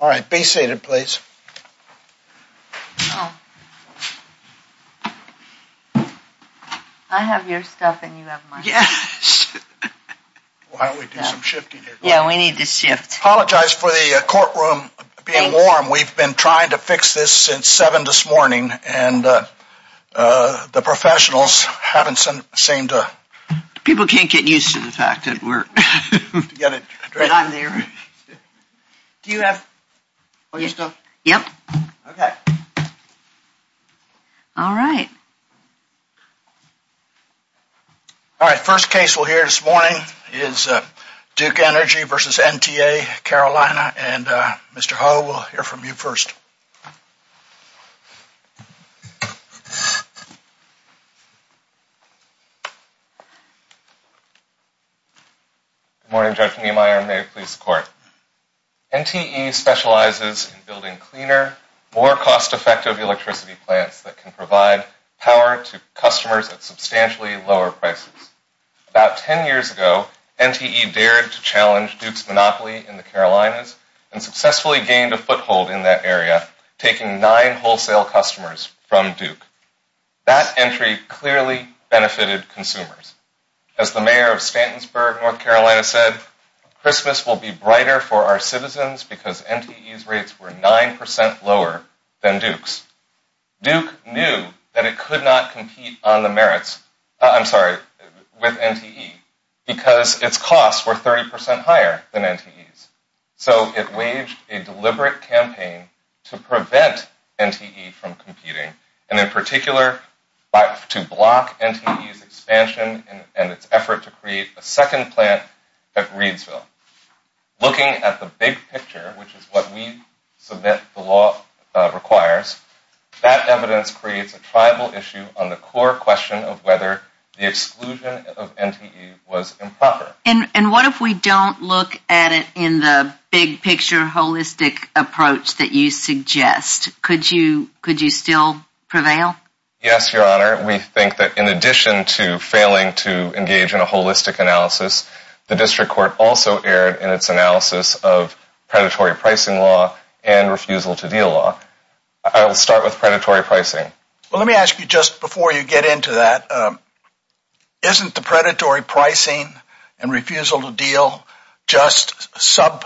All right, be seated, please. I have your stuff and you have mine. Yes, why don't we do some shifting here? Yeah, we need to shift. Apologize for the courtroom being warm. We've been trying to fix this since seven this morning. And the professionals haven't seemed to. People can't get used to the fact that we're together. But I'm there. Do you have your stuff? Yep. OK. All right. All right, first case we'll hear this morning is Duke Energy versus NTA Carolina. And Mr. Ho, we'll hear from you first. Good morning, Judge Niemeyer. May it please the court. NTE specializes in building cleaner, more cost effective electricity plants that can provide power to customers at substantially lower prices. About 10 years ago, NTE dared to challenge Duke's monopoly in the Carolinas and successfully gained a foothold in that area, taking nine wholesale customers from Duke. That entry clearly benefited consumers. As the mayor of Stantonsburg, North Carolina said, Christmas will be brighter for our citizens because NTE's rates were 9% lower than Duke's. Duke knew that it could not compete on the merits, I'm sorry, with NTE because its costs were 30% higher than NTE's. So it waged a deliberate campaign to prevent NTE from competing, and in particular, to block NTE's expansion and its effort to create a second plant at Reidsville. Looking at the big picture, which is what we submit the law requires, that evidence creates a tribal issue on the core question of whether the exclusion of NTE was improper. And what if we don't look at it in the big picture, holistic approach that you suggest? Could you still prevail? Yes, Your Honor. We think that in addition to failing to engage in a holistic analysis, the district court also erred in its analysis of predatory pricing law and refusal to deal law. I'll start with predatory pricing. Well, let me ask you just before you get into that, isn't the predatory pricing and refusal to deal just subclasses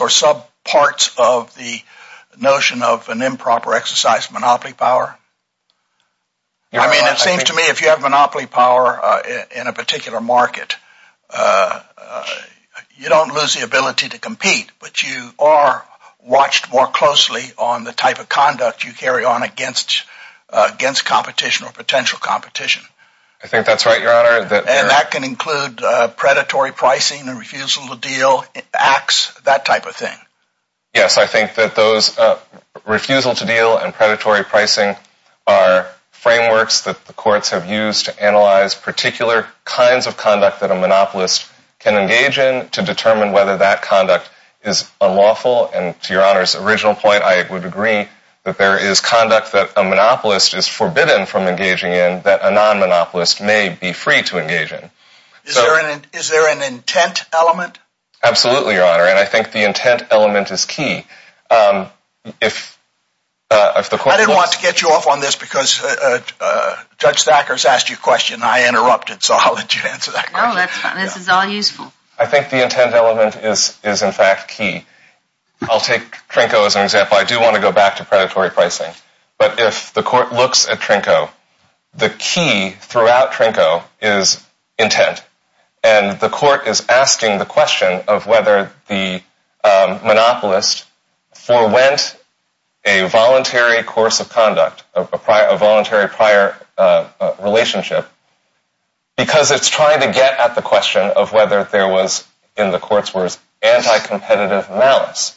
or subparts of the notion of an improper exercise of monopoly power? I mean, it seems to me if you have monopoly power in a particular market, you don't lose the ability to compete, but you are watched more closely on the type of conduct you carry on against competition or potential competition. I think that's right, Your Honor. And that can include predatory pricing and refusal to deal, acts, that type of thing. Yes, I think that those refusal to deal and predatory pricing are frameworks that the courts have used to analyze particular kinds of conduct that a monopolist can engage in to determine whether that conduct is unlawful. And to Your Honor's original point, I would agree that there is conduct that a monopolist is forbidden from engaging in that a non-monopolist may be free to engage in. Is there an intent element? Absolutely, Your Honor. And I think the intent element is key. I didn't want to get you off on this because Judge Thacker's asked you a question. I interrupted, so I'll let you answer that question. This is all useful. I think the intent element is, in fact, key. I'll take Trinko as an example. I do want to go back to predatory pricing. But if the court looks at Trinko, the key throughout Trinko is intent. And the court is asking the question of whether the monopolist forwent a voluntary course of conduct, a voluntary prior relationship, because it's trying to get at the question of whether there was, in the court's words, anti-competitive malice.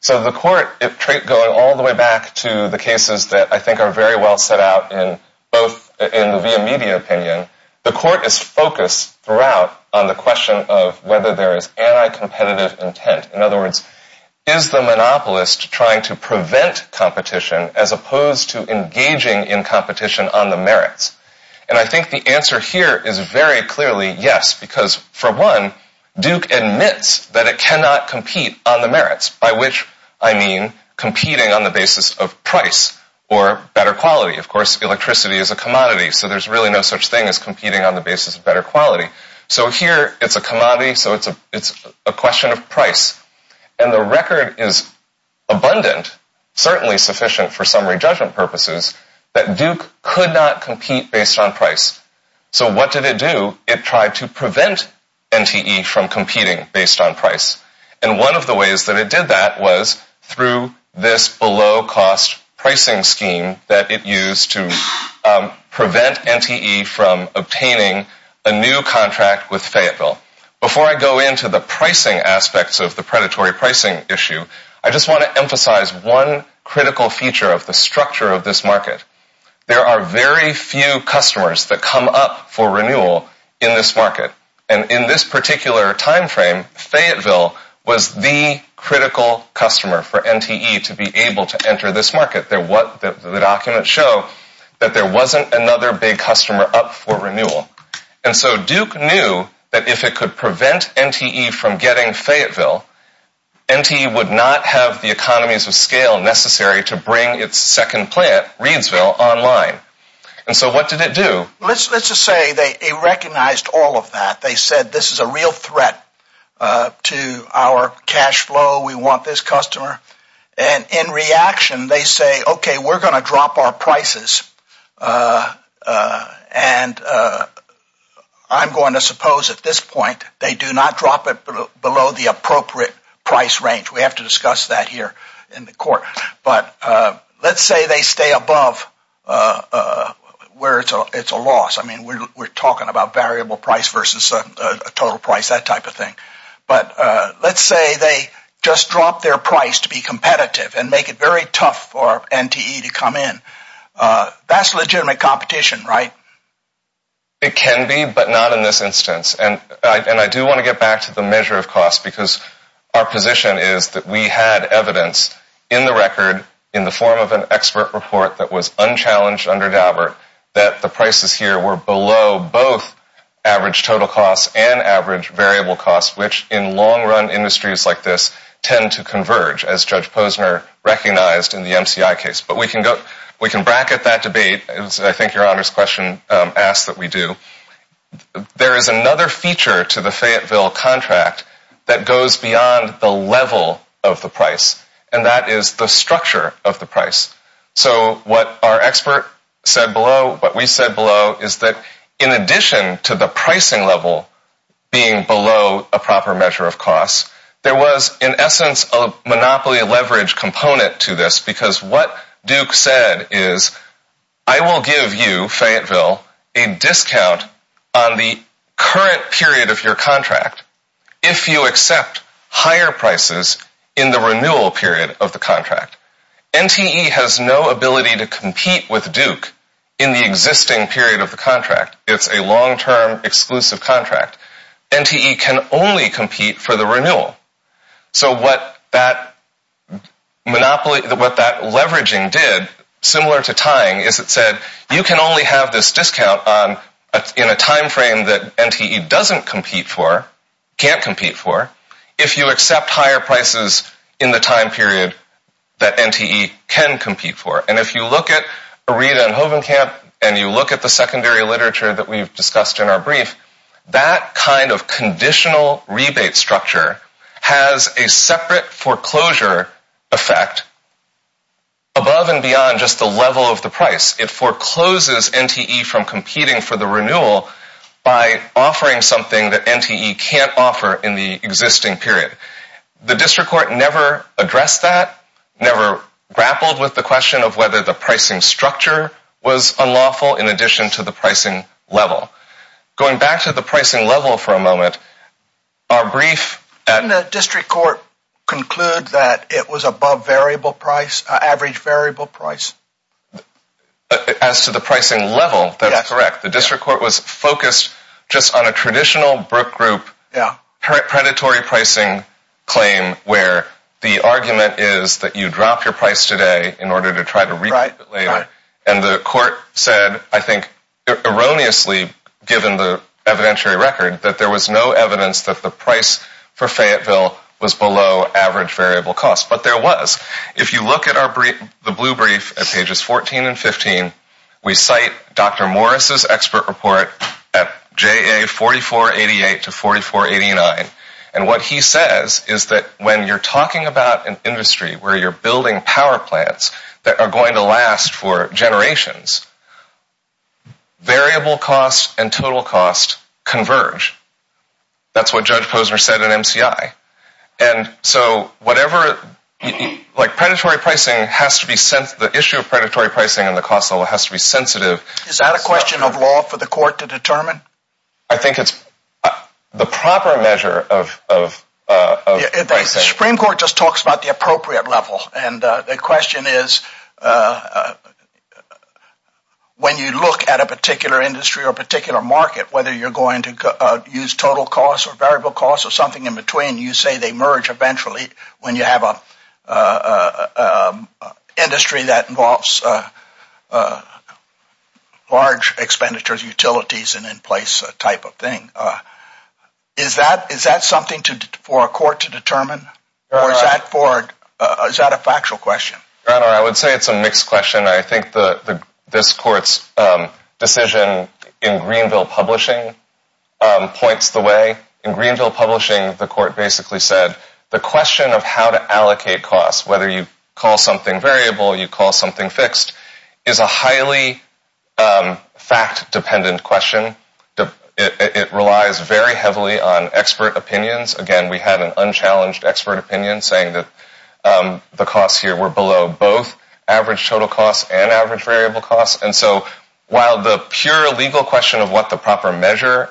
So the court, going all the way back to the cases that I think are very well set out in both in the media opinion, the court is focused throughout on the question of whether there is anti-competitive intent. In other words, is the monopolist trying to prevent competition as opposed to engaging in competition on the merits? And I think the answer here is very clearly yes, because for one, Duke admits that it cannot compete on the merits, by which I mean competing on the basis of price or better quality. Of course, electricity is a commodity, so there's really no such thing as competing on the basis of better quality. So here, it's a commodity, so it's a question of price. And the record is abundant, certainly sufficient for summary judgment purposes, that Duke could not compete based on price. So what did it do? It tried to prevent NTE from competing based on price. And one of the ways that it did that was through this below-cost pricing scheme that it used to prevent NTE from obtaining a new contract with Fayetteville. Before I go into the pricing aspects of the predatory pricing issue, I just want to emphasize one critical feature of the structure of this market. There are very few customers that come up for renewal in this market. And in this particular time frame, Fayetteville was the critical customer for NTE to be able to enter this market. The documents show that there wasn't another big customer up for renewal. And so Duke knew that if it could prevent NTE from getting Fayetteville, NTE would not have the economies of scale necessary to bring its second plant, Reidsville, online. And so what did it do? Let's just say they recognized all of that. They said, this is a real threat to our cash flow. We want this customer. And in reaction, they say, OK, we're going to drop our prices. And I'm going to suppose at this point, they do not drop it below the appropriate price range. We have to discuss that here in the court. But let's say they stay above where it's a loss. I mean, we're talking about variable price versus a total price, that type of thing. But let's say they just drop their price to be competitive and make it very tough for NTE to come in. That's legitimate competition, right? It can be, but not in this instance. And I do want to get back to the measure of cost because our position is that we had evidence in the record in the form of an expert report that was unchallenged under Daubert that the prices here were below both average total costs and average variable costs, which in long-run industries like this tend to converge, as Judge Posner recognized in the MCI case. But we can bracket that debate. I think Your Honor's question asks that we do. There is another feature to the Fayetteville contract that goes beyond the level of the price. And that is the structure of the price. So what our expert said below, what we said below, is that in addition to the pricing level being below a proper measure of cost, there was, in essence, a monopoly leverage component to this because what Duke said is, I will give you, Fayetteville, a discount on the current period of your contract if you accept higher prices in the renewal period of the contract. NTE has no ability to compete with Duke in the existing period of the contract. It's a long-term exclusive contract. NTE can only compete for the renewal. So what that leveraging did, similar to tying, is it said, you can only have this discount in a timeframe that NTE doesn't compete for, can't compete for, if you accept higher prices in the time period that NTE can compete for. And if you look at Aretha and Hovenkamp, and you look at the secondary literature that we've discussed in our brief, that kind of conditional rebate structure has a separate foreclosure effect above and beyond just the level of the price. It forecloses NTE from competing for the renewal by offering something that NTE can't offer in the existing period. The district court never addressed that, never grappled with the question of whether the pricing structure was unlawful in addition to the pricing level. Going back to the pricing level for a moment, our brief at- Didn't the district court conclude that it was above average variable price? As to the pricing level, that's correct. The district court was focused just on a traditional Brook Group predatory pricing claim where the argument is that you drop your price today in order to try to recoup it later. And the court said, I think erroneously, given the evidentiary record, that there was no evidence that the price for Fayetteville was below average variable cost. But there was. If you look at the blue brief at pages 14 and 15, we cite Dr. Morris's expert report at JA 4488 to 4489. And what he says is that when you're talking about an industry where you're building power plants that are going to last for generations, variable costs and total costs converge. That's what Judge Posner said at MCI. And so whatever, like predatory pricing has to be sent, the issue of predatory pricing and the cost level has to be sensitive. Is that a question of law for the court to determine? I think it's the proper measure of pricing. Supreme Court just talks about the appropriate level. And the question is, when you look at a particular industry or particular market, whether you're going to use total costs or variable costs or something in between, you say they merge eventually when you have a industry that involves large expenditures, utilities, and in-place type of thing. Is that something for a court to determine? Or is that a factual question? Your Honor, I would say it's a mixed question. I think this court's decision in Greenville Publishing points the way. In Greenville Publishing, the court basically said the question of how to allocate costs, whether you call something variable, you call something fixed, is a highly fact-dependent question. It relies very heavily on expert opinions. Again, we had an unchallenged expert opinion saying that the costs here were below both average total costs and average variable costs. And so while the pure legal question of what the proper measure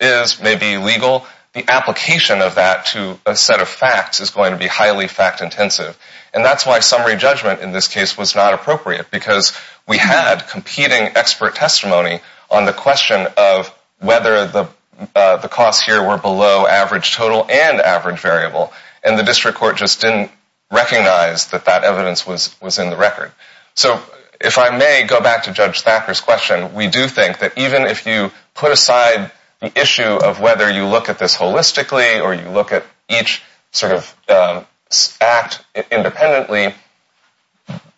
is may be legal, the application of that to a set of facts is going to be highly fact-intensive. And that's why summary judgment in this case was not appropriate, because we had competing expert testimony on the question of whether the costs here were below average total and average variable. And the district court just didn't recognize that that evidence was in the record. So if I may go back to Judge Thacker's question, we do think that even if you put aside the issue of whether you look at this holistically or you look at each sort of act independently,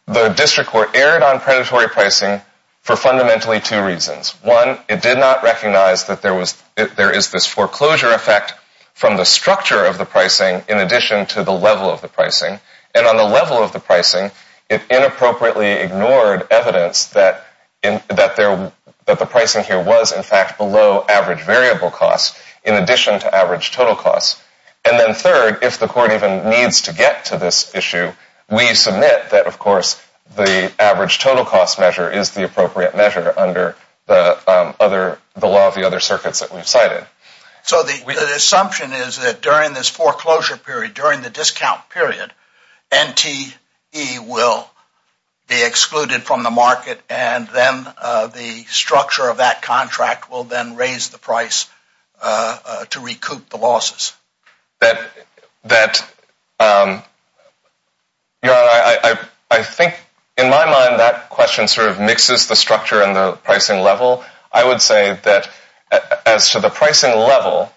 the district court erred on predatory pricing for fundamentally two reasons. One, it did not recognize that there was, there is this foreclosure effect from the structure of the pricing in addition to the level of the pricing. And on the level of the pricing, it inappropriately ignored evidence that the pricing here was in fact below average variable costs in addition to average total costs. And then third, if the court even needs to get to this issue, we submit that, of course, the average total cost measure is the appropriate measure under the law of the other circuits that we've cited. So the assumption is that during this foreclosure period, during the discount period, NTE will be excluded from the market and then the structure of that contract will then raise the price to recoup the losses. I think in my mind, that question sort of mixes the structure and the pricing level. I would say that as to the pricing level,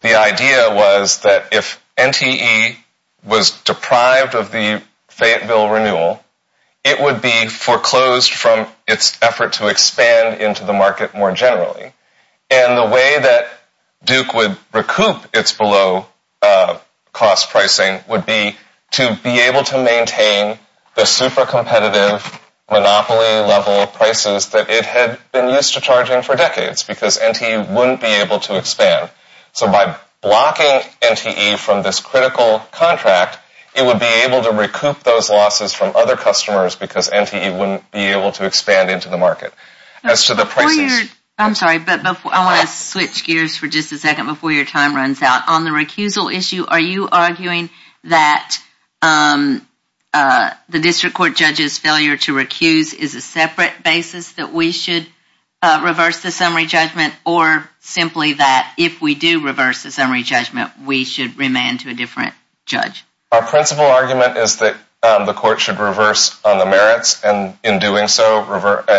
the idea was that if NTE was deprived of the Fayetteville renewal, it would be foreclosed from its effort to expand into the market more generally. And the way that Duke would recoup its below cost pricing would be to be able to maintain the super competitive monopoly level prices that it had been used to charging for decades because NTE wouldn't be able to expand. So by blocking NTE from this critical contract, it would be able to recoup those losses from other customers because NTE wouldn't be able to expand into the market. As to the prices... I'm sorry, but I wanna switch gears for just a second before your time runs out. On the recusal issue, are you arguing that the district court judges failure to recuse is a separate basis that we should reverse the summary judgment or simply that if we do reverse the summary judgment, we should remand to a different judge? Our principal argument is that the court should reverse on the merits and in doing so,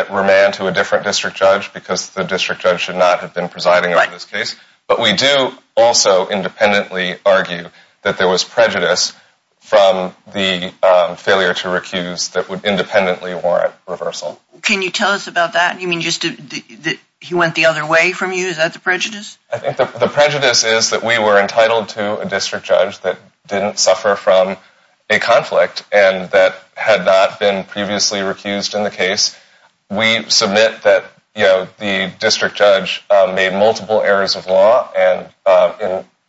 remand to a different district judge because the district judge should not have been presiding over this case. But we do also independently argue that there was prejudice from the failure to recuse that would independently warrant reversal. Can you tell us about that? You mean just that he went the other way from you? Is that the prejudice? I think the prejudice is that we were entitled to a district judge that didn't suffer from a conflict and that had not been previously recused in the case. We submit that the district judge made multiple errors of law and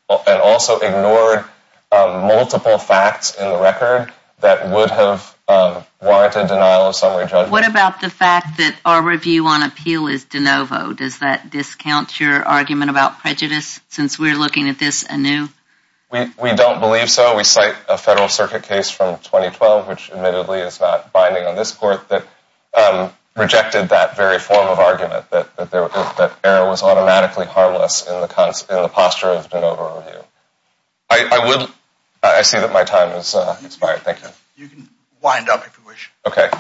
also ignored multiple facts in the record that would have warranted denial of summary judgment. What about the fact that our review on appeal is de novo? Does that discount your argument about prejudice since we're looking at this anew? We don't believe so. We cite a federal circuit case from 2012, which admittedly is not binding on this court, that rejected that very form of argument that error was automatically harmless in the posture of de novo review. I see that my time has expired, thank you. You can wind up if you wish. Okay.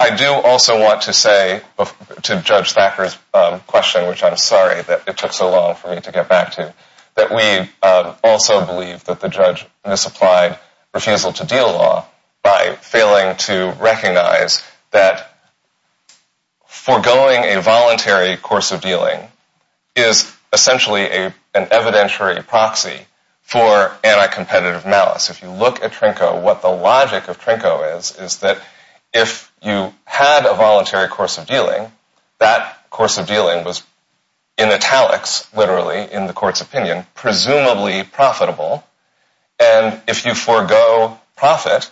I do also want to say to Judge Thacker's question, which I'm sorry that it took so long for me to get back to, that we also believe that the judge misapplied refusal to deal law by failing to recognize that foregoing a voluntary course of dealing is essentially an evidentiary proxy for anti-competitive malice. If you look at Trinko, what the logic of Trinko is, is that if you had a voluntary course of dealing, that course of dealing was in italics, literally in the court's opinion, presumably profitable. And if you forego profit,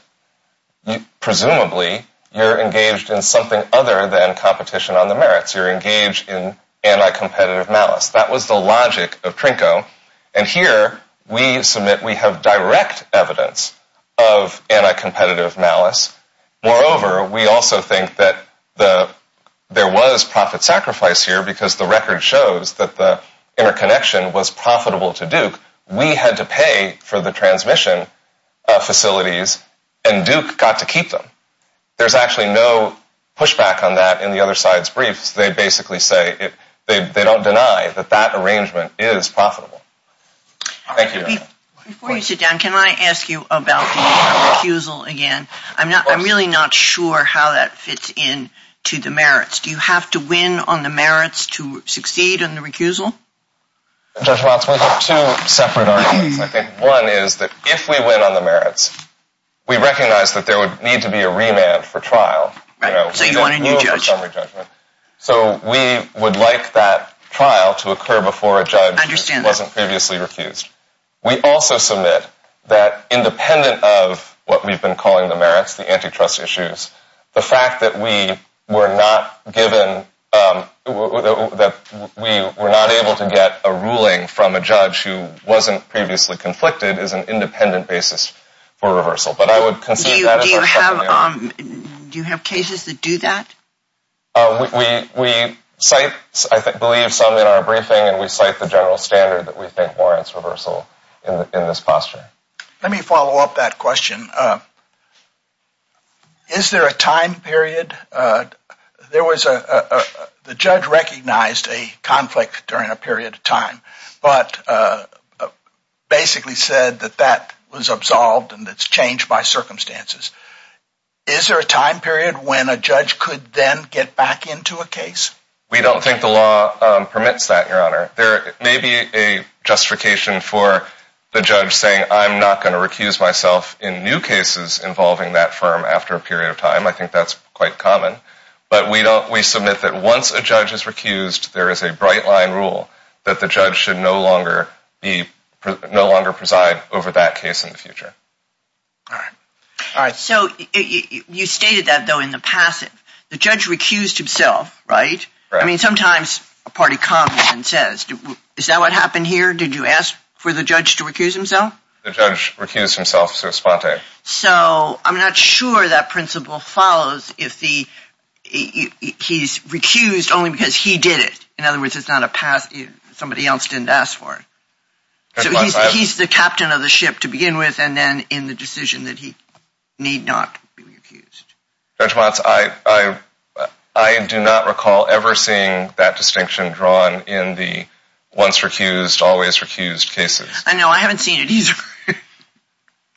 presumably you're engaged in something other than competition on the merits. You're engaged in anti-competitive malice. That was the logic of Trinko. And here we submit we have direct evidence of anti-competitive malice. Moreover, we also think that there was profit sacrifice here because the record shows that the interconnection was profitable to Duke. We had to pay for the transmission facilities and Duke got to keep them. There's actually no pushback on that in the other side's briefs. They basically say, they don't deny that that arrangement is profitable. Thank you. Before you sit down, can I ask you about the recusal again? I'm really not sure how that fits in to the merits. Do you have to win on the merits to succeed in the recusal? Judge Watts, we have two separate arguments. I think one is that if we win on the merits, we recognize that there would need to be a remand for trial. So you want a new judge. So we would like that trial to occur before a judge wasn't previously refused. We also submit that independent of what we've been calling the merits, the antitrust issues, the fact that we were not given, that we were not able to get a ruling from a judge who wasn't previously conflicted is an independent basis for reversal. But I would consider that as our second argument. Do you have cases that do that? We cite, I believe some in our briefing and we cite the general standard that we think warrants reversal in this posture. Let me follow up that question. Is there a time period, the judge recognized a conflict during a period of time, but basically said that that was absolved and it's changed by circumstances. could then get back into a case? We don't think the law permits that, Your Honor. There may be a justification for the judge saying, I'm not gonna recuse myself in new cases involving that firm after a period of time. I think that's quite common, but we submit that once a judge is recused, there is a bright line rule that the judge should no longer preside over that case in the future. So you stated that though in the passive, the judge recused himself, right? I mean, sometimes a party comes and says, is that what happened here? Did you ask for the judge to recuse himself? The judge recused himself so spontane. So I'm not sure that principle follows if he's recused only because he did it. In other words, it's not a pass, somebody else didn't ask for it. So he's the captain of the ship to begin with and then in the decision that he need not be recused. Judge Watts, I do not recall ever seeing that distinction drawn in the once recused, always recused cases. I know, I haven't seen it either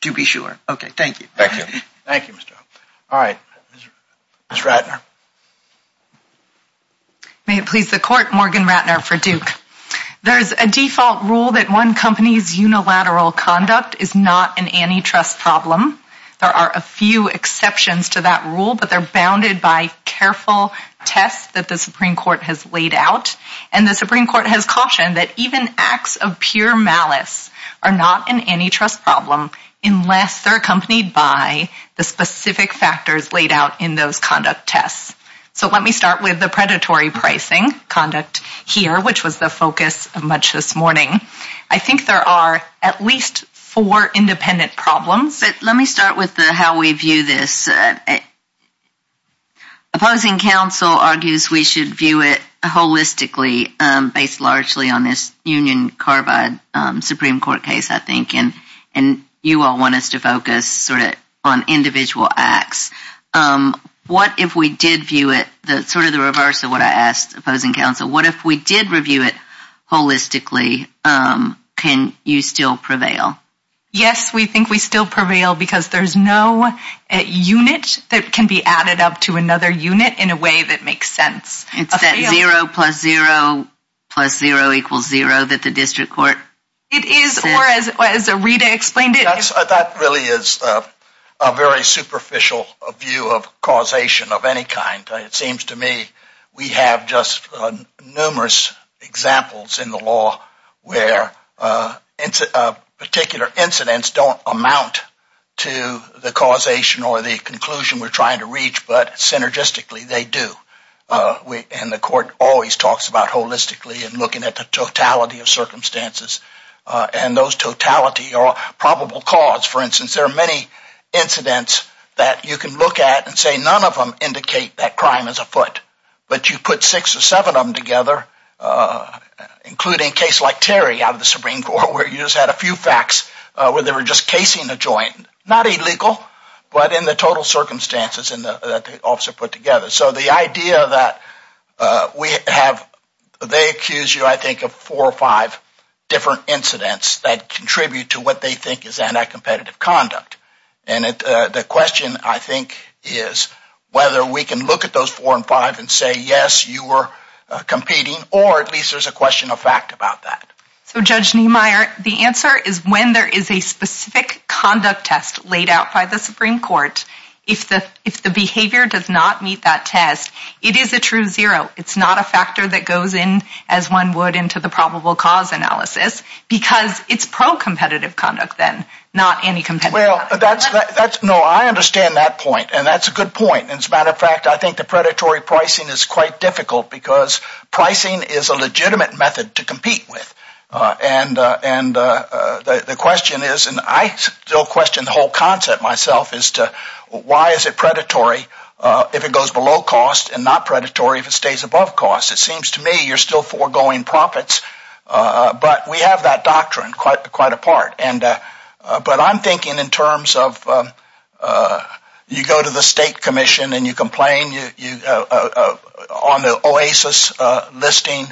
to be sure. Okay, thank you. Thank you. Thank you, Mr. O. All right, Ms. Ratner. May it please the court, Morgan Ratner for Duke. There is a default rule that one company's unilateral conduct is not an antitrust problem. There are a few exceptions to that rule, but they're bounded by careful tests that the Supreme Court has laid out. And the Supreme Court has cautioned that even acts of pure malice are not an antitrust problem unless they're accompanied by the specific factors laid out in those conduct tests. So let me start with the predatory pricing conduct here, which was the focus of much this morning. I think there are at least four independent problems. Let me start with the how we view this. Opposing counsel argues we should view it holistically based largely on this Union Carbide Supreme Court case, I think, and you all want us to focus sort of on individual acts. What if we did view it, the sort of the reverse of what I asked opposing counsel, what if we did review it holistically, can you still prevail? Yes, we think we still prevail because there's no unit that can be added up to another unit in a way that makes sense. It's that zero plus zero plus zero equals zero that the district court. It is, or as Rita explained it. That really is a very superficial view of causation of any kind. It seems to me we have just numerous examples in the law where particular incidents don't amount to the causation or the conclusion we're trying to reach, but synergistically they do. And the court always talks about holistically and looking at the totality of circumstances. And those totality are probable cause. For instance, there are many incidents that you can look at and say none of them indicate that crime is afoot, but you put six or seven of them together, including a case like Terry out of the Supreme Court where you just had a few facts where they were just casing a joint. Not illegal, but in the total circumstances that the officer put together. So the idea that we have, they accuse you, I think, of four or five different incidents that contribute to what they think is anti-competitive conduct. And the question, I think, is whether we can look at those four and five and say, yes, you were competing or at least there's a question of fact about that. So Judge Niemeyer, the answer is when there is a specific conduct test laid out by the Supreme Court, if the behavior does not meet that test, it is a true zero. It's not a factor that goes in as one would into the probable cause analysis because it's pro-competitive conduct then, not anti-competitive. Well, that's, no, I understand that point. And that's a good point. And as a matter of fact, I think the predatory pricing is quite difficult because pricing is a legitimate method to compete with. And the question is, and I still question the whole concept myself, is to why is it predatory if it goes below cost and not predatory if it stays above cost? It seems to me you're still foregoing profits, but we have that doctrine quite a part. But I'm thinking in terms of you go to the state commission and you complain on the OASIS listing,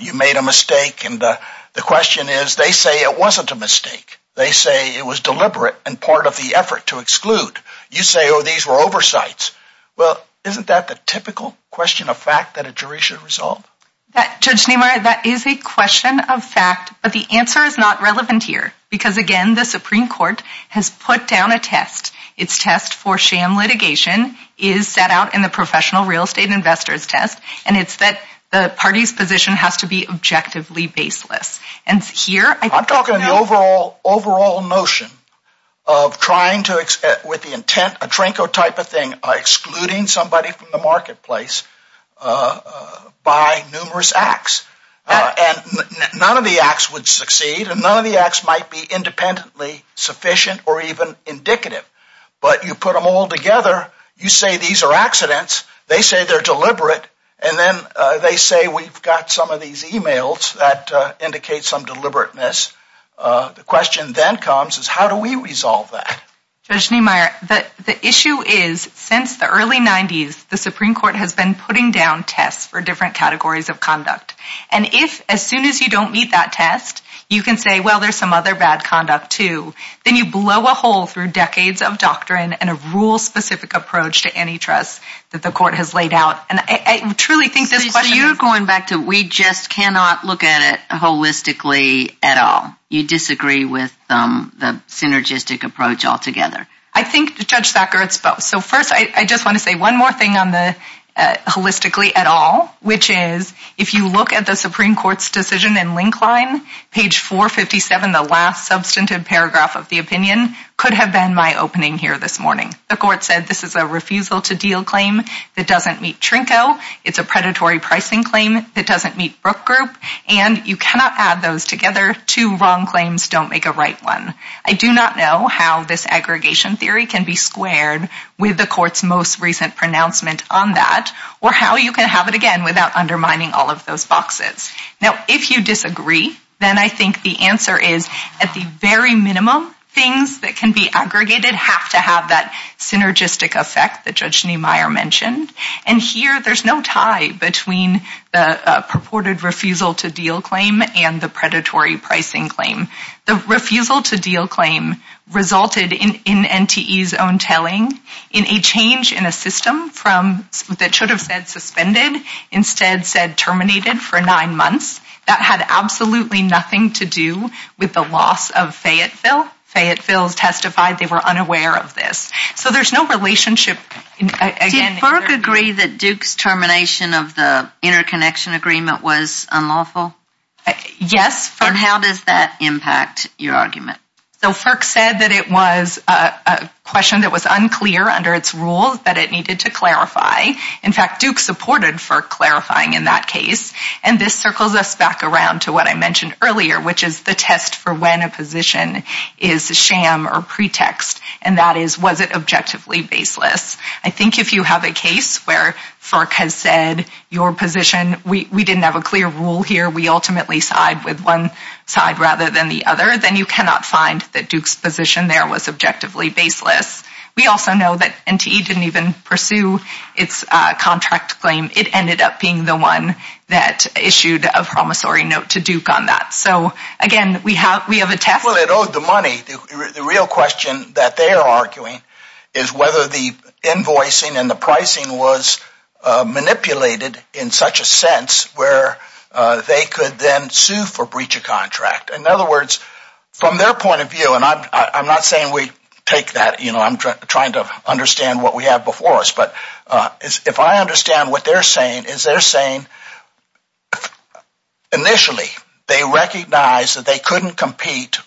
you made a mistake. And the question is, they say it wasn't a mistake. They say it was deliberate and part of the effort to exclude. You say, oh, these were oversights. Well, isn't that the typical question of fact that a jury should resolve? Judge Nimoy, that is a question of fact, but the answer is not relevant here because again, the Supreme Court has put down a test. It's test for sham litigation is set out in the Professional Real Estate Investors Test. And it's that the party's position has to be objectively baseless. And here- I'm talking the overall notion of trying to expect with the intent, a Tranko type of thing, excluding somebody from the marketplace by numerous acts. And none of the acts would succeed and none of the acts might be independently sufficient or even indicative. But you put them all together. You say, these are accidents. They say they're deliberate. And then they say, we've got some of these emails that indicate some deliberateness. The question then comes is how do we resolve that? Judge Nimoy, the issue is since the early nineties, the Supreme Court has been putting down tests for different categories of conduct. And if, as soon as you don't meet that test, you can say, well, there's some other bad conduct too. Then you blow a hole through decades of doctrine and a rule specific approach to antitrust that the court has laid out. And I truly think this question- So you're going back to, we just cannot look at it holistically at all. You disagree with the synergistic approach altogether. I think Judge Sackert's both. So first, I just want to say one more thing on the holistically at all, which is if you look at the Supreme Court's decision and link line, page 457, the last substantive paragraph of the opinion could have been my opening here this morning. The court said, this is a refusal to deal claim that doesn't meet Trinco. It's a predatory pricing claim that doesn't meet Brooke Group. And you cannot add those together. Two wrong claims don't make a right one. I do not know how this aggregation theory can be squared with the court's most recent pronouncement on that or how you can have it again without undermining all of those boxes. Now, if you disagree, then I think the answer is at the very minimum, things that can be aggregated have to have that synergistic effect that Judge Niemeyer mentioned. And here, there's no tie between the purported refusal to deal claim and the predatory pricing claim. The refusal to deal claim resulted in NTE's own telling in a change in a system from, that should have said suspended, instead said terminated for nine months. That had absolutely nothing to do with the loss of Fayetteville. Fayetteville's testified they were unaware of this. So there's no relationship again. Did Firk agree that Duke's termination of the interconnection agreement was unlawful? Yes, Firk. And how does that impact your argument? So Firk said that it was a question that was unclear under its rules, that it needed to clarify. In fact, Duke supported Firk clarifying in that case. And this circles us back around to what I mentioned earlier, which is the test for when a position is a sham or pretext. And that is, was it objectively baseless? I think if you have a case where Firk has said your position, we didn't have a clear rule here, we ultimately side with one side rather than the other, then you cannot find that Duke's position there was objectively baseless. We also know that NTE didn't even pursue its contract claim. It ended up being the one that issued a promissory note to Duke on that. So again, we have a test. Well, it owed the money. The real question that they are arguing is whether the invoicing and the pricing was manipulated in such a sense where they could then sue for breach of contract. In other words, from their point of view, and I'm not saying we take that, I'm trying to understand what we have before us, but if I understand what they're saying, is they're saying, initially, they recognized that they couldn't compete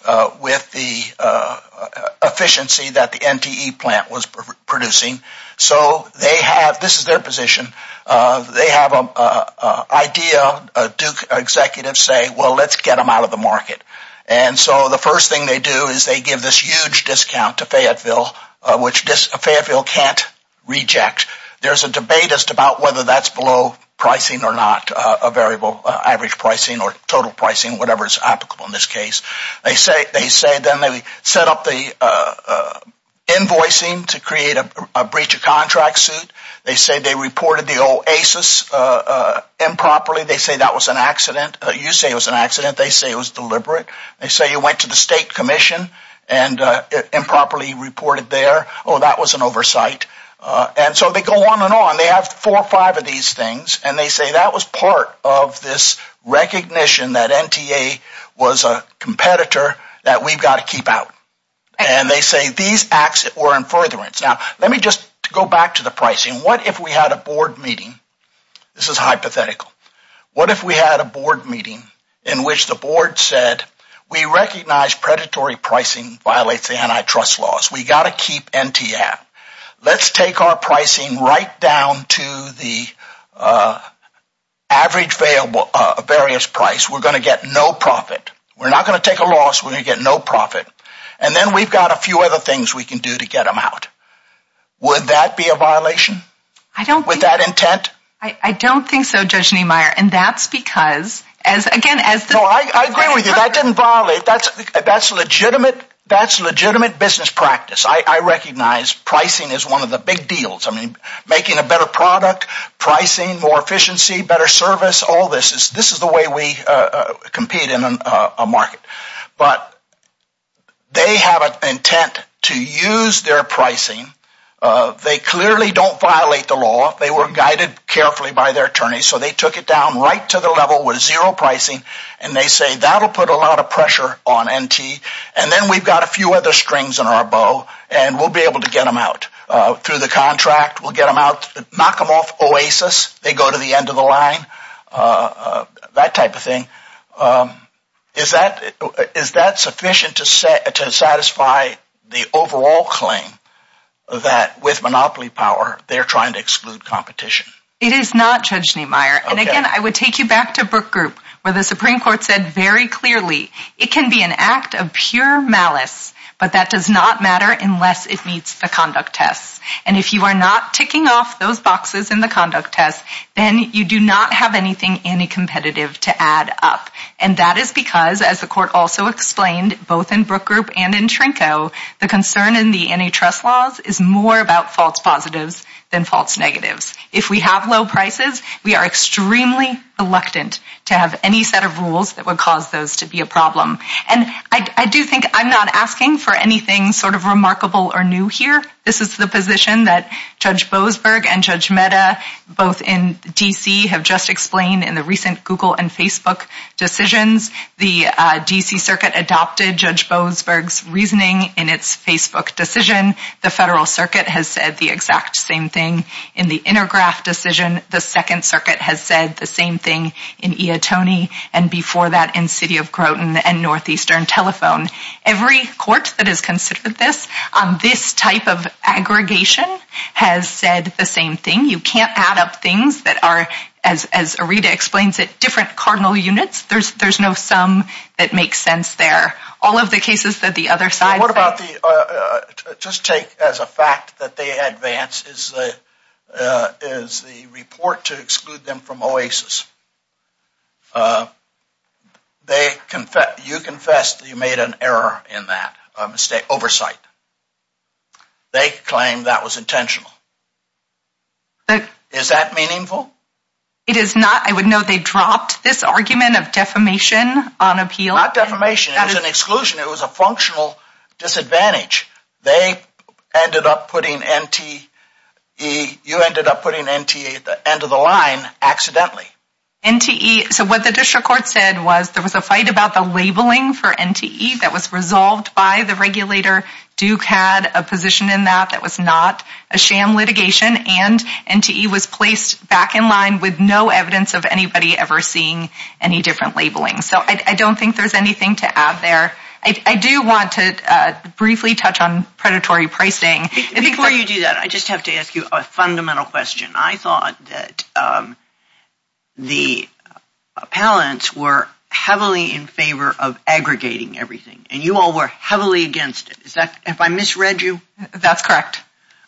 with the efficiency that the NTE plant was producing. So they have, this is their position, they have an idea, Duke executives say, well, let's get them out of the market. And so the first thing they do is they give this huge discount to Fayetteville, which Fayetteville can't reject. There's a debate as to about whether that's below pricing or not, a variable average pricing or total pricing, whatever is applicable in this case. They say then they set up the invoicing to create a breach of contract suit. They say they reported the OASIS improperly. They say that was an accident. You say it was an accident. They say it was deliberate. They say you went to the state commission and improperly reported there. Oh, that was an oversight. And so they go on and on. They have four or five of these things, and they say that was part of this recognition that NTA was a competitor that we've got to keep out. And they say these acts were in furtherance. Now, let me just go back to the pricing. What if we had a board meeting? This is hypothetical. What if we had a board meeting in which the board said, we recognize predatory pricing violates the antitrust laws. We got to keep NTA out. Let's take our pricing right down to the average variance price. We're going to get no profit. We're not going to take a loss. We're going to get no profit. And then we've got a few other things we can do to get them out. Would that be a violation? I don't think- With that intent? I don't think so, Judge Niemeyer. And that's because as again, as the- I agree with you. That didn't violate. That's legitimate business practice. I recognize pricing is one of the big deals. I mean, making a better product, pricing, more efficiency, better service, all this. This is the way we compete in a market. But they have an intent to use their pricing. They clearly don't violate the law. They were guided carefully by their attorneys. So they took it down right to the level with zero pricing. And they say, that'll put a lot of pressure on NT. And then we've got a few other strings in our bow and we'll be able to get them out through the contract. We'll get them out, knock them off Oasis. They go to the end of the line, that type of thing. Is that sufficient to satisfy the overall claim that with monopoly power, they're trying to exclude competition? It is not, Judge Niemeyer. And again, I would take you back to Brook Group where the Supreme Court said very clearly, it can be an act of pure malice, but that does not matter unless it meets the conduct tests. And if you are not ticking off those boxes in the conduct test, then you do not have anything anti-competitive to add up. And that is because, as the court also explained, both in Brook Group and in Trinco, the concern in the antitrust laws is more about false positives than false negatives. If we have low prices, we are extremely reluctant to have any set of rules that would cause those to be a problem. And I do think I'm not asking for anything sort of remarkable or new here. This is the position that Judge Boasberg and Judge Mehta, both in DC, have just explained in the recent Google and Facebook decisions. The DC Circuit adopted Judge Boasberg's reasoning in its Facebook decision. The Federal Circuit has said the exact same thing in the Intergraph decision, the Second Circuit has said the same thing in Iotoni, and before that in City of Groton and Northeastern Telephone. Every court that has considered this, this type of aggregation has said the same thing. You can't add up things that are, as Arita explains it, different cardinal units. There's no sum that makes sense there. All of the cases that the other side- What about the, just take as a fact that they advance is the report to exclude them from OASIS. They, you confessed that you made an error in that, a mistake, oversight. They claim that was intentional. Is that meaningful? It is not. I would note they dropped this argument of defamation on appeal. Not defamation, it was an exclusion. It was a functional disadvantage. They ended up putting NTE, you ended up putting NTE at the end of the line accidentally. NTE, so what the district court said was there was a fight about the labeling for NTE that was resolved by the regulator. Duke had a position in that that was not a sham litigation and NTE was placed back in line with no evidence of anybody ever seeing any different labeling. So I don't think there's anything to add there. I do want to briefly touch on predatory pricing. Before you do that, I just have to ask you a fundamental question. I thought that the appellants were heavily in favor of aggregating everything and you all were heavily against it. Is that, if I misread you? That's correct.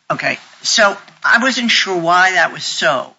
Okay, so I wasn't sure why that was so.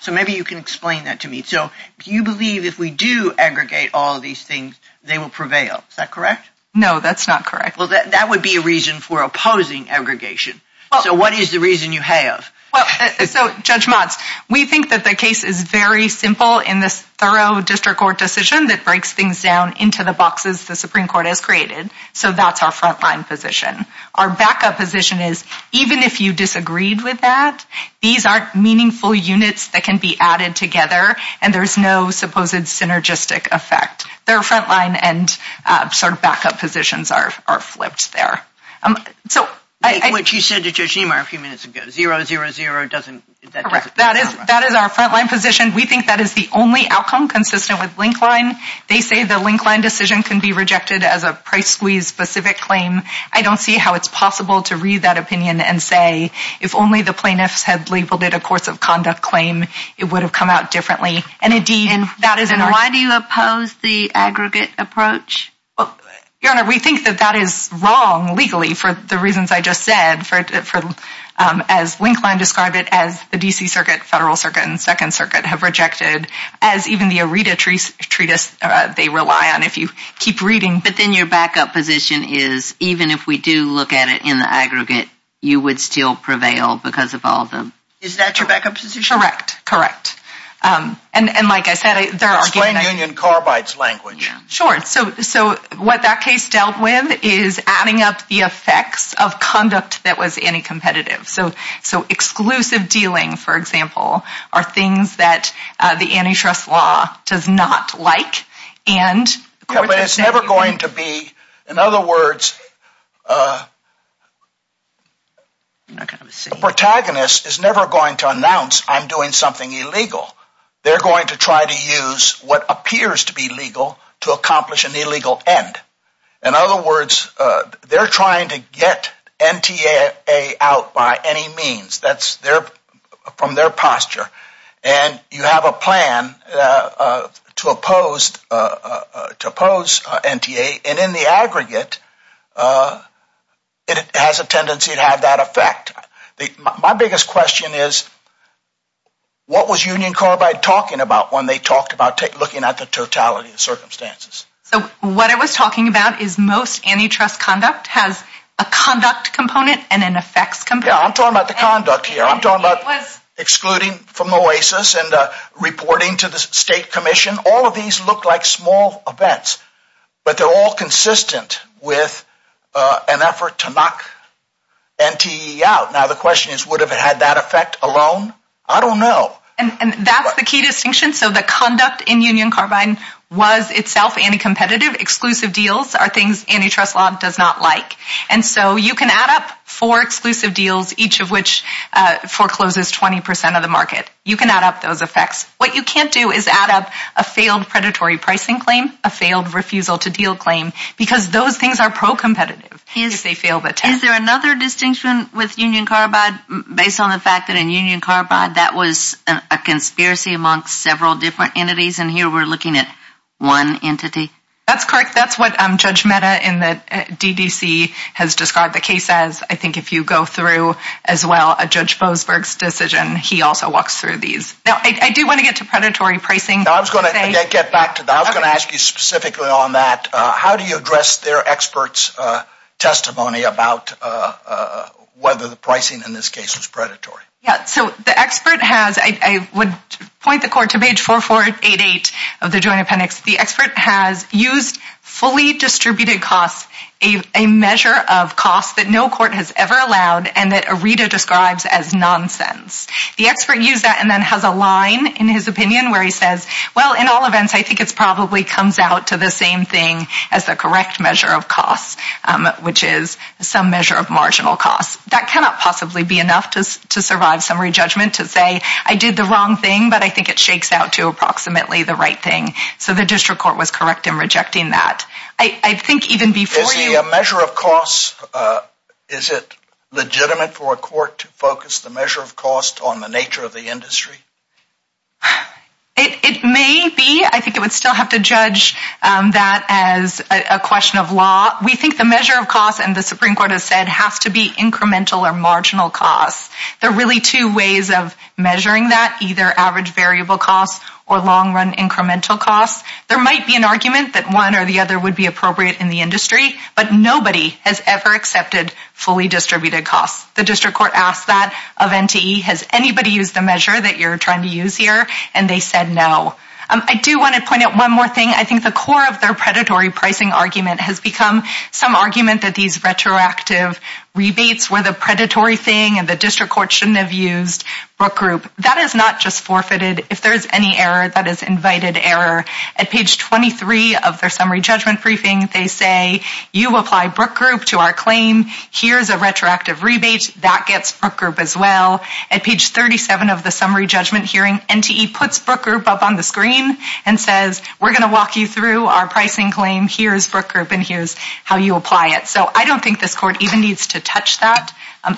So maybe you can explain that to me. So you believe if we do aggregate all of these things, they will prevail. Is that correct? No, that's not correct. Well, that would be a reason for opposing aggregation. So what is the reason you have? Well, so Judge Motz, we think that the case is very simple in this thorough district court decision that breaks things down into the boxes the Supreme Court has created. So that's our frontline position. Our backup position is even if you disagreed with that, these aren't meaningful units that can be added together and there's no supposed synergistic effect. They're frontline and sort of backup positions are flipped there. So I- Which you said to Judge Niemeyer a few minutes ago, zero, zero, zero doesn't- Correct, that is our frontline position. We think that is the only outcome consistent with link line. They say the link line decision can be rejected as a price squeeze specific claim. I don't see how it's possible to read that opinion and say, if only the plaintiffs had labeled it a course of conduct claim, it would have come out differently. And indeed- Then why do you oppose the aggregate approach? Well, Your Honor, we think that that is wrong legally for the reasons I just said, as link line described it as the DC circuit, federal circuit and second circuit have rejected as even the Aretha treatise they rely on. If you keep reading- But then your backup position is even if we do look at it in the aggregate, you would still prevail because of all of them. Is that your backup position? Correct, correct. And like I said, there are- Explain Union Carbide's language. Sure, so what that case dealt with is adding up the effects of conduct that was anti-competitive. So exclusive dealing, for example, are things that the antitrust law does not like. And- Yeah, but it's never going to be, in other words, the protagonist is never going to announce I'm doing something illegal. They're going to try to use what appears to be legal to accomplish an illegal end. In other words, they're trying to get NTA out by any means. That's from their posture. And you have a plan to oppose NTA. And in the aggregate, it has a tendency to have that effect. My biggest question is, what was Union Carbide talking about when they talked about looking at the totality of the circumstances? So what I was talking about is most antitrust conduct has a conduct component and an effects component. Yeah, I'm talking about the conduct here. I'm talking about excluding from OASIS and reporting to the state commission. All of these look like small events, but they're all consistent with an effort to knock NTA out. Now the question is, would have it had that effect alone? I don't know. And that's the key distinction. So the conduct in Union Carbide was itself anti-competitive. Exclusive deals are things antitrust law does not like. And so you can add up four exclusive deals, each of which forecloses 20% of the market. You can add up those effects. What you can't do is add up a failed predatory pricing claim, a failed refusal to deal claim, because those things are pro-competitive if they fail the test. Is there another distinction with Union Carbide based on the fact that in Union Carbide that was a conspiracy amongst several different entities? And here we're looking at one entity. That's correct. That's what Judge Mehta in the DDC has described the case as. I think if you go through as well, a Judge Boasberg's decision, he also walks through these. Now I do want to get to predatory pricing. Now I was going to get back to that. I was going to ask you specifically on that. How do you address their experts' testimony about whether the pricing in this case was predatory? Yeah, so the expert has, I would point the court to page 4488 of the Joint Appendix. The expert has used fully distributed costs, a measure of costs that no court has ever allowed and that a reader describes as nonsense. The expert used that and then has a line in his opinion where he says, well, in all events, I think it's probably comes out to the same thing as the correct measure of costs, which is some measure of marginal costs. That cannot possibly be enough to survive summary judgment to say I did the wrong thing, but I think it shakes out to approximately the right thing. So the district court was correct in rejecting that. I think even before you- Is the measure of costs, is it legitimate for a court to focus the measure of costs on the nature of the industry? It may be. I think it would still have to judge that as a question of law. We think the measure of costs, and the Supreme Court has said, has to be incremental or marginal costs. There are really two ways of measuring that, either average variable costs or long run incremental costs. There might be an argument that one or the other would be appropriate in the industry, but nobody has ever accepted fully distributed costs. The district court asked that of NTE, has anybody used the measure that you're trying to use here? And they said no. I do want to point out one more thing. I think the core of their predatory pricing argument has become some argument that these retroactive rebates were the predatory thing, and the district court shouldn't have used Brook Group. That is not just forfeited. If there's any error, that is invited error. At page 23 of their summary judgment briefing, they say, you apply Brook Group to our claim. Here's a retroactive rebate. That gets Brook Group as well. At page 37 of the summary judgment hearing, NTE puts Brook Group up on the screen and says, we're going to walk you through our pricing claim. Here's Brook Group, and here's how you apply it. So I don't think this court even needs to touch that.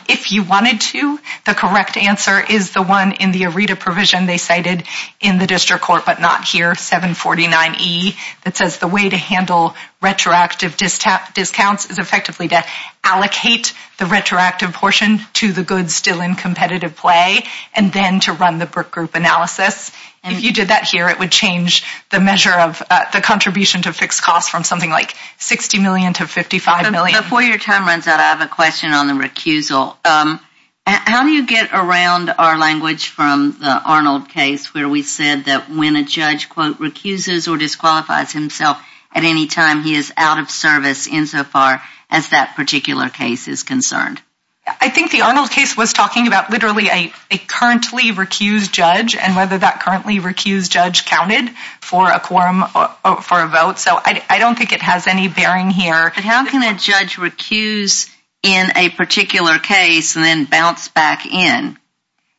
If you wanted to, the correct answer is the one in the ARETA provision they cited in the district court, but not here, 749E, that says the way to handle retroactive discounts is effectively to allocate the retroactive portion to the goods still in competitive play, and then to run the Brook Group analysis. If you did that here, it would change the measure of the contribution to fixed costs from something like 60 million to 55 million. Before your time runs out, I have a question on the recusal. How do you get around our language from the Arnold case where we said that when a judge, quote, recuses or disqualifies himself at any time, he is out of service insofar as that particular case is concerned? I think the Arnold case was talking about literally a currently recused judge, and whether that currently recused judge counted for a quorum for a vote. So I don't think it has any bearing here. But how can a judge recuse in a particular case and then bounce back in?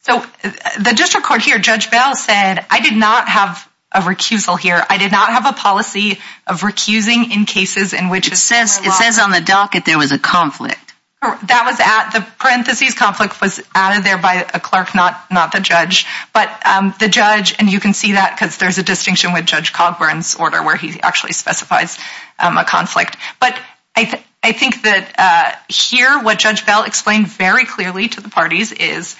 So the district court here, Judge Bell said, I did not have a recusal here. I did not have a policy of recusing in cases in which it says- It says on the docket there was a conflict. That was at, the parentheses conflict was added there by a clerk, not the judge. But the judge, and you can see that because there's a distinction with Judge Cogburn's order where he actually specifies a conflict. But I think that here, what Judge Bell explained very clearly to the parties is,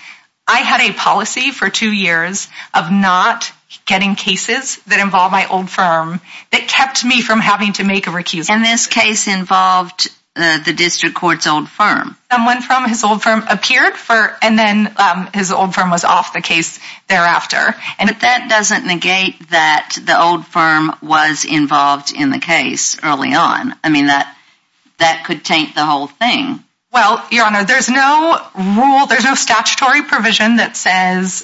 I had a policy for two years of not getting cases that involve my old firm that kept me from having to make a recusal. And this case involved the district court's old firm. Someone from his old firm appeared for, and then his old firm was off the case thereafter. But that doesn't negate that the old firm was involved in the case early on. I mean, that could taint the whole thing. Well, Your Honor, there's no rule, there's no statutory provision that says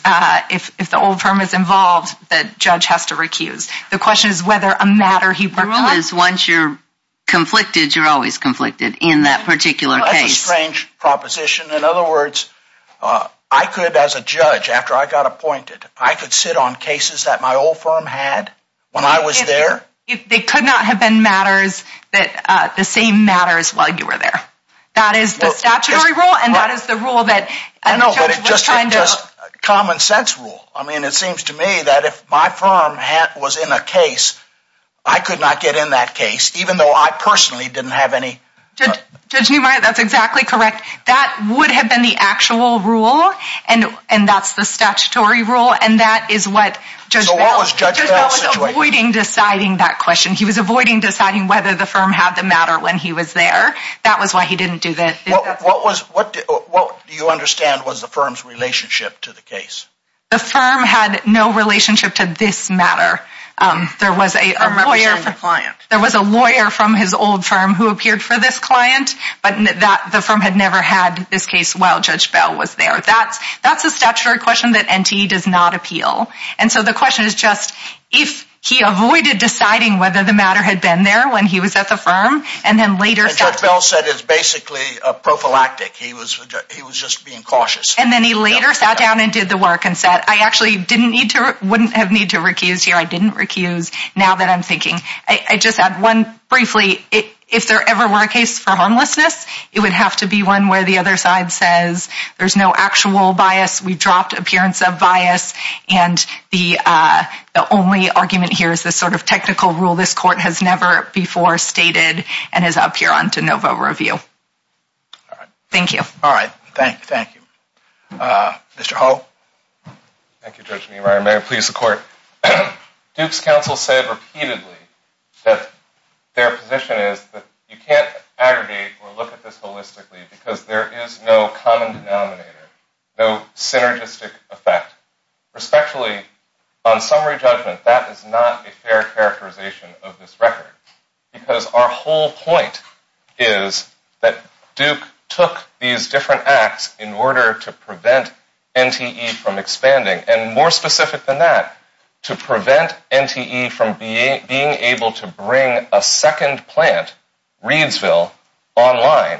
if the old firm is involved, that judge has to recuse. The question is whether a matter he worked on- The rule is once you're conflicted, you're always conflicted in that particular case. That's a strange proposition. In other words, I could, as a judge, after I got appointed, I could sit on cases that my old firm had when I was there? It could not have been matters, the same matters while you were there. That is the statutory rule, and that is the rule that- I know, but it's just a common sense rule. I mean, it seems to me that if my firm was in a case, I could not get in that case, even though I personally didn't have any- Judge Neumeyer, that's exactly correct. That would have been the actual rule, and that's the statutory rule, and that is what Judge Bell- So what was Judge Bell's situation? Judge Bell was avoiding deciding that question. He was avoiding deciding whether the firm had the matter when he was there. That was why he didn't do that- What do you understand was the firm's relationship to the case? The firm had no relationship to this matter. There was a lawyer- A representative client. There was a lawyer from his old firm who appeared for this client, but the firm had never had this case while Judge Bell was there. That's a statutory question that NTE does not appeal, and so the question is just, if he avoided deciding whether the matter had been there when he was at the firm, and then later- And Judge Bell said it's basically a prophylactic. He was just being cautious. And then he later sat down and did the work and said, I actually wouldn't have need to recuse here. I didn't recuse now that I'm thinking. I just add one briefly. If there ever were a case for homelessness, it would have to be one where the other side says there's no actual bias. We dropped appearance of bias, and the only argument here is this sort of technical rule this court has never before stated and is up here on to no vote review. Thank you. All right, thank you. Mr. Hull. Thank you, Judge Meemeyer. May it please the court. Duke's counsel said repeatedly that their position is that you can't aggregate or look at this holistically because there is no common denominator, no synergistic effect. Respectfully, on summary judgment, that is not a fair characterization of this record because our whole point is that Duke took these different acts in order to prevent NTE from expanding and more specific than that, to prevent NTE from being able to bring a second plant, Reidsville, online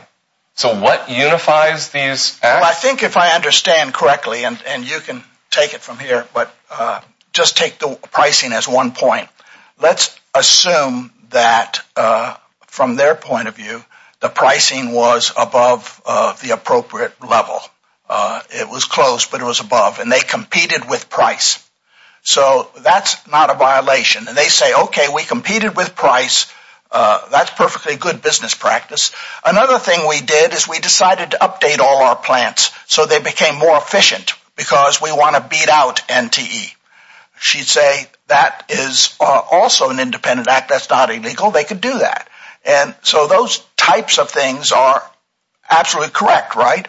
So what unifies these acts? Well, I think if I understand correctly, and you can take it from here, but just take the pricing as one point. Let's assume that from their point of view, the pricing was above the appropriate level. It was close, but it was above, and they competed with price. So that's not a violation. And they say, okay, we competed with price. That's perfectly good business practice. Another thing we did is we decided to update all our plants so they became more efficient because we want to beat out NTE. She'd say that is also an independent act. That's not illegal. They could do that. And so those types of things are absolutely correct, right?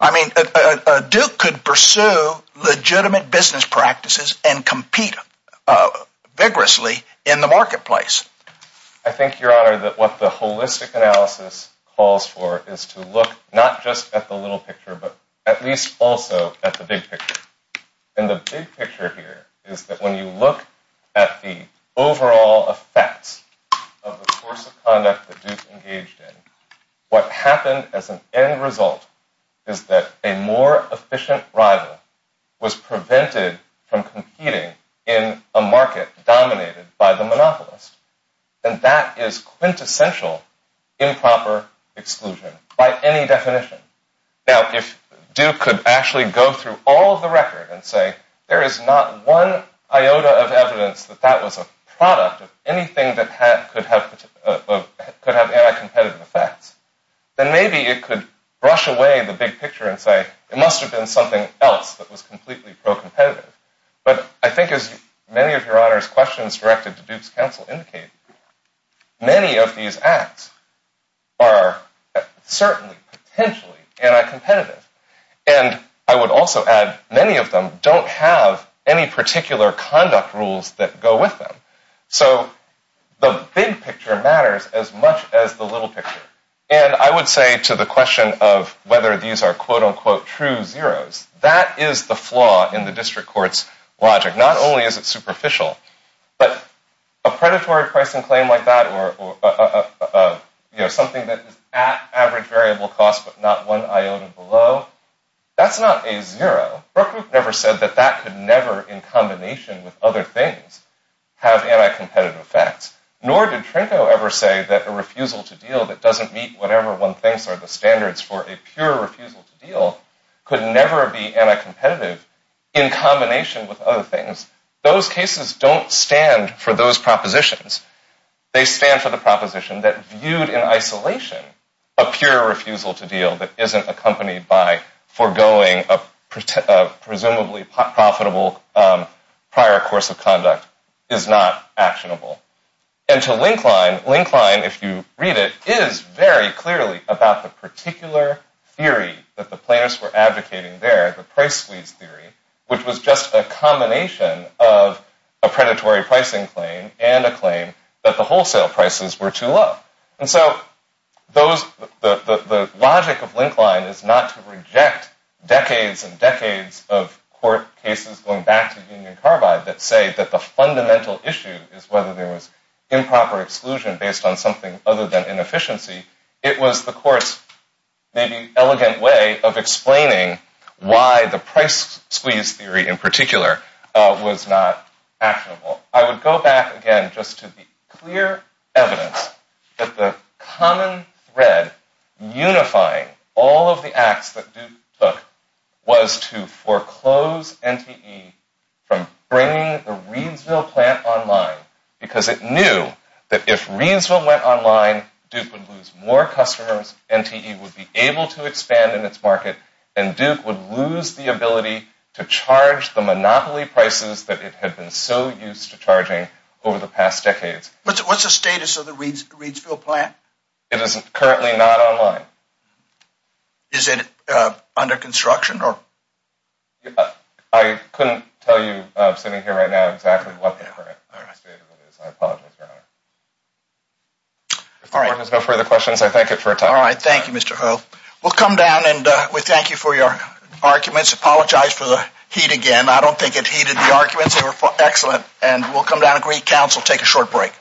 I mean, Duke could pursue legitimate business practices and compete vigorously in the marketplace. I think, Your Honor, that what the holistic analysis calls for is to look not just at the little picture, but at least also at the big picture. And the big picture here is that when you look at the overall effects of the course of conduct that Duke engaged in, what happened as an end result is that a more efficient rival was prevented from competing in a market dominated by the monopolist. And that is quintessential improper exclusion by any definition. Now, if Duke could actually go through all of the record and say there is not one iota of evidence that that was a product of anything that could have anti-competitive effects, then maybe it could brush away the big picture and say it must have been something else that was completely pro-competitive. But I think as many of Your Honor's questions directed to Duke's counsel indicate, many of these acts are certainly potentially anti-competitive. And I would also add, many of them don't have any particular conduct rules that go with them. So the big picture matters as much as the little picture. And I would say to the question of whether these are quote-unquote true zeros, that is the flaw in the district court's logic. Not only is it superficial, but a predatory pricing claim like that, or something that is at average variable cost but not one iota below, that's not a zero. Brookgroup never said that that could never, in combination with other things, have anti-competitive effects. Nor did Trinko ever say that a refusal to deal that doesn't meet whatever one thinks are the standards for a pure refusal to deal could never be anti-competitive in combination with other things. Those cases don't stand for those propositions. They stand for the proposition that viewed in isolation, a pure refusal to deal that isn't accompanied by foregoing a presumably profitable prior course of conduct is not actionable. And to Linklein, Linklein, if you read it, is very clearly about the particular theory that the plaintiffs were advocating there, the price squeeze theory, which was just a combination of a predatory pricing claim and a claim that the wholesale prices were too low. And so the logic of Linklein is not to reject decades and decades of court cases going back to Union Carbide that say that the fundamental issue is whether there was improper exclusion based on something other than inefficiency. It was the court's maybe elegant way of explaining why the price squeeze theory in particular was not actionable. I would go back again just to the clear evidence that the common thread unifying all of the acts that Duke took was to foreclose NTE from bringing the Reidsville plant online because it knew that if Reidsville went online, Duke would lose more customers, NTE would be able to expand in its market, and Duke would lose the ability to charge the monopoly prices that it had been so used to charging over the past decades. What's the status of the Reidsville plant? It is currently not online. Is it under construction or? I couldn't tell you sitting here right now exactly what the current state of it is. I apologize, Your Honor. If there are no further questions, I thank you for your time. All right, thank you, Mr. Ho. We'll come down and we thank you for your arguments. Apologize for the heat again. I don't think it heated the arguments. They were excellent, and we'll come down and greet counsel, take a short break.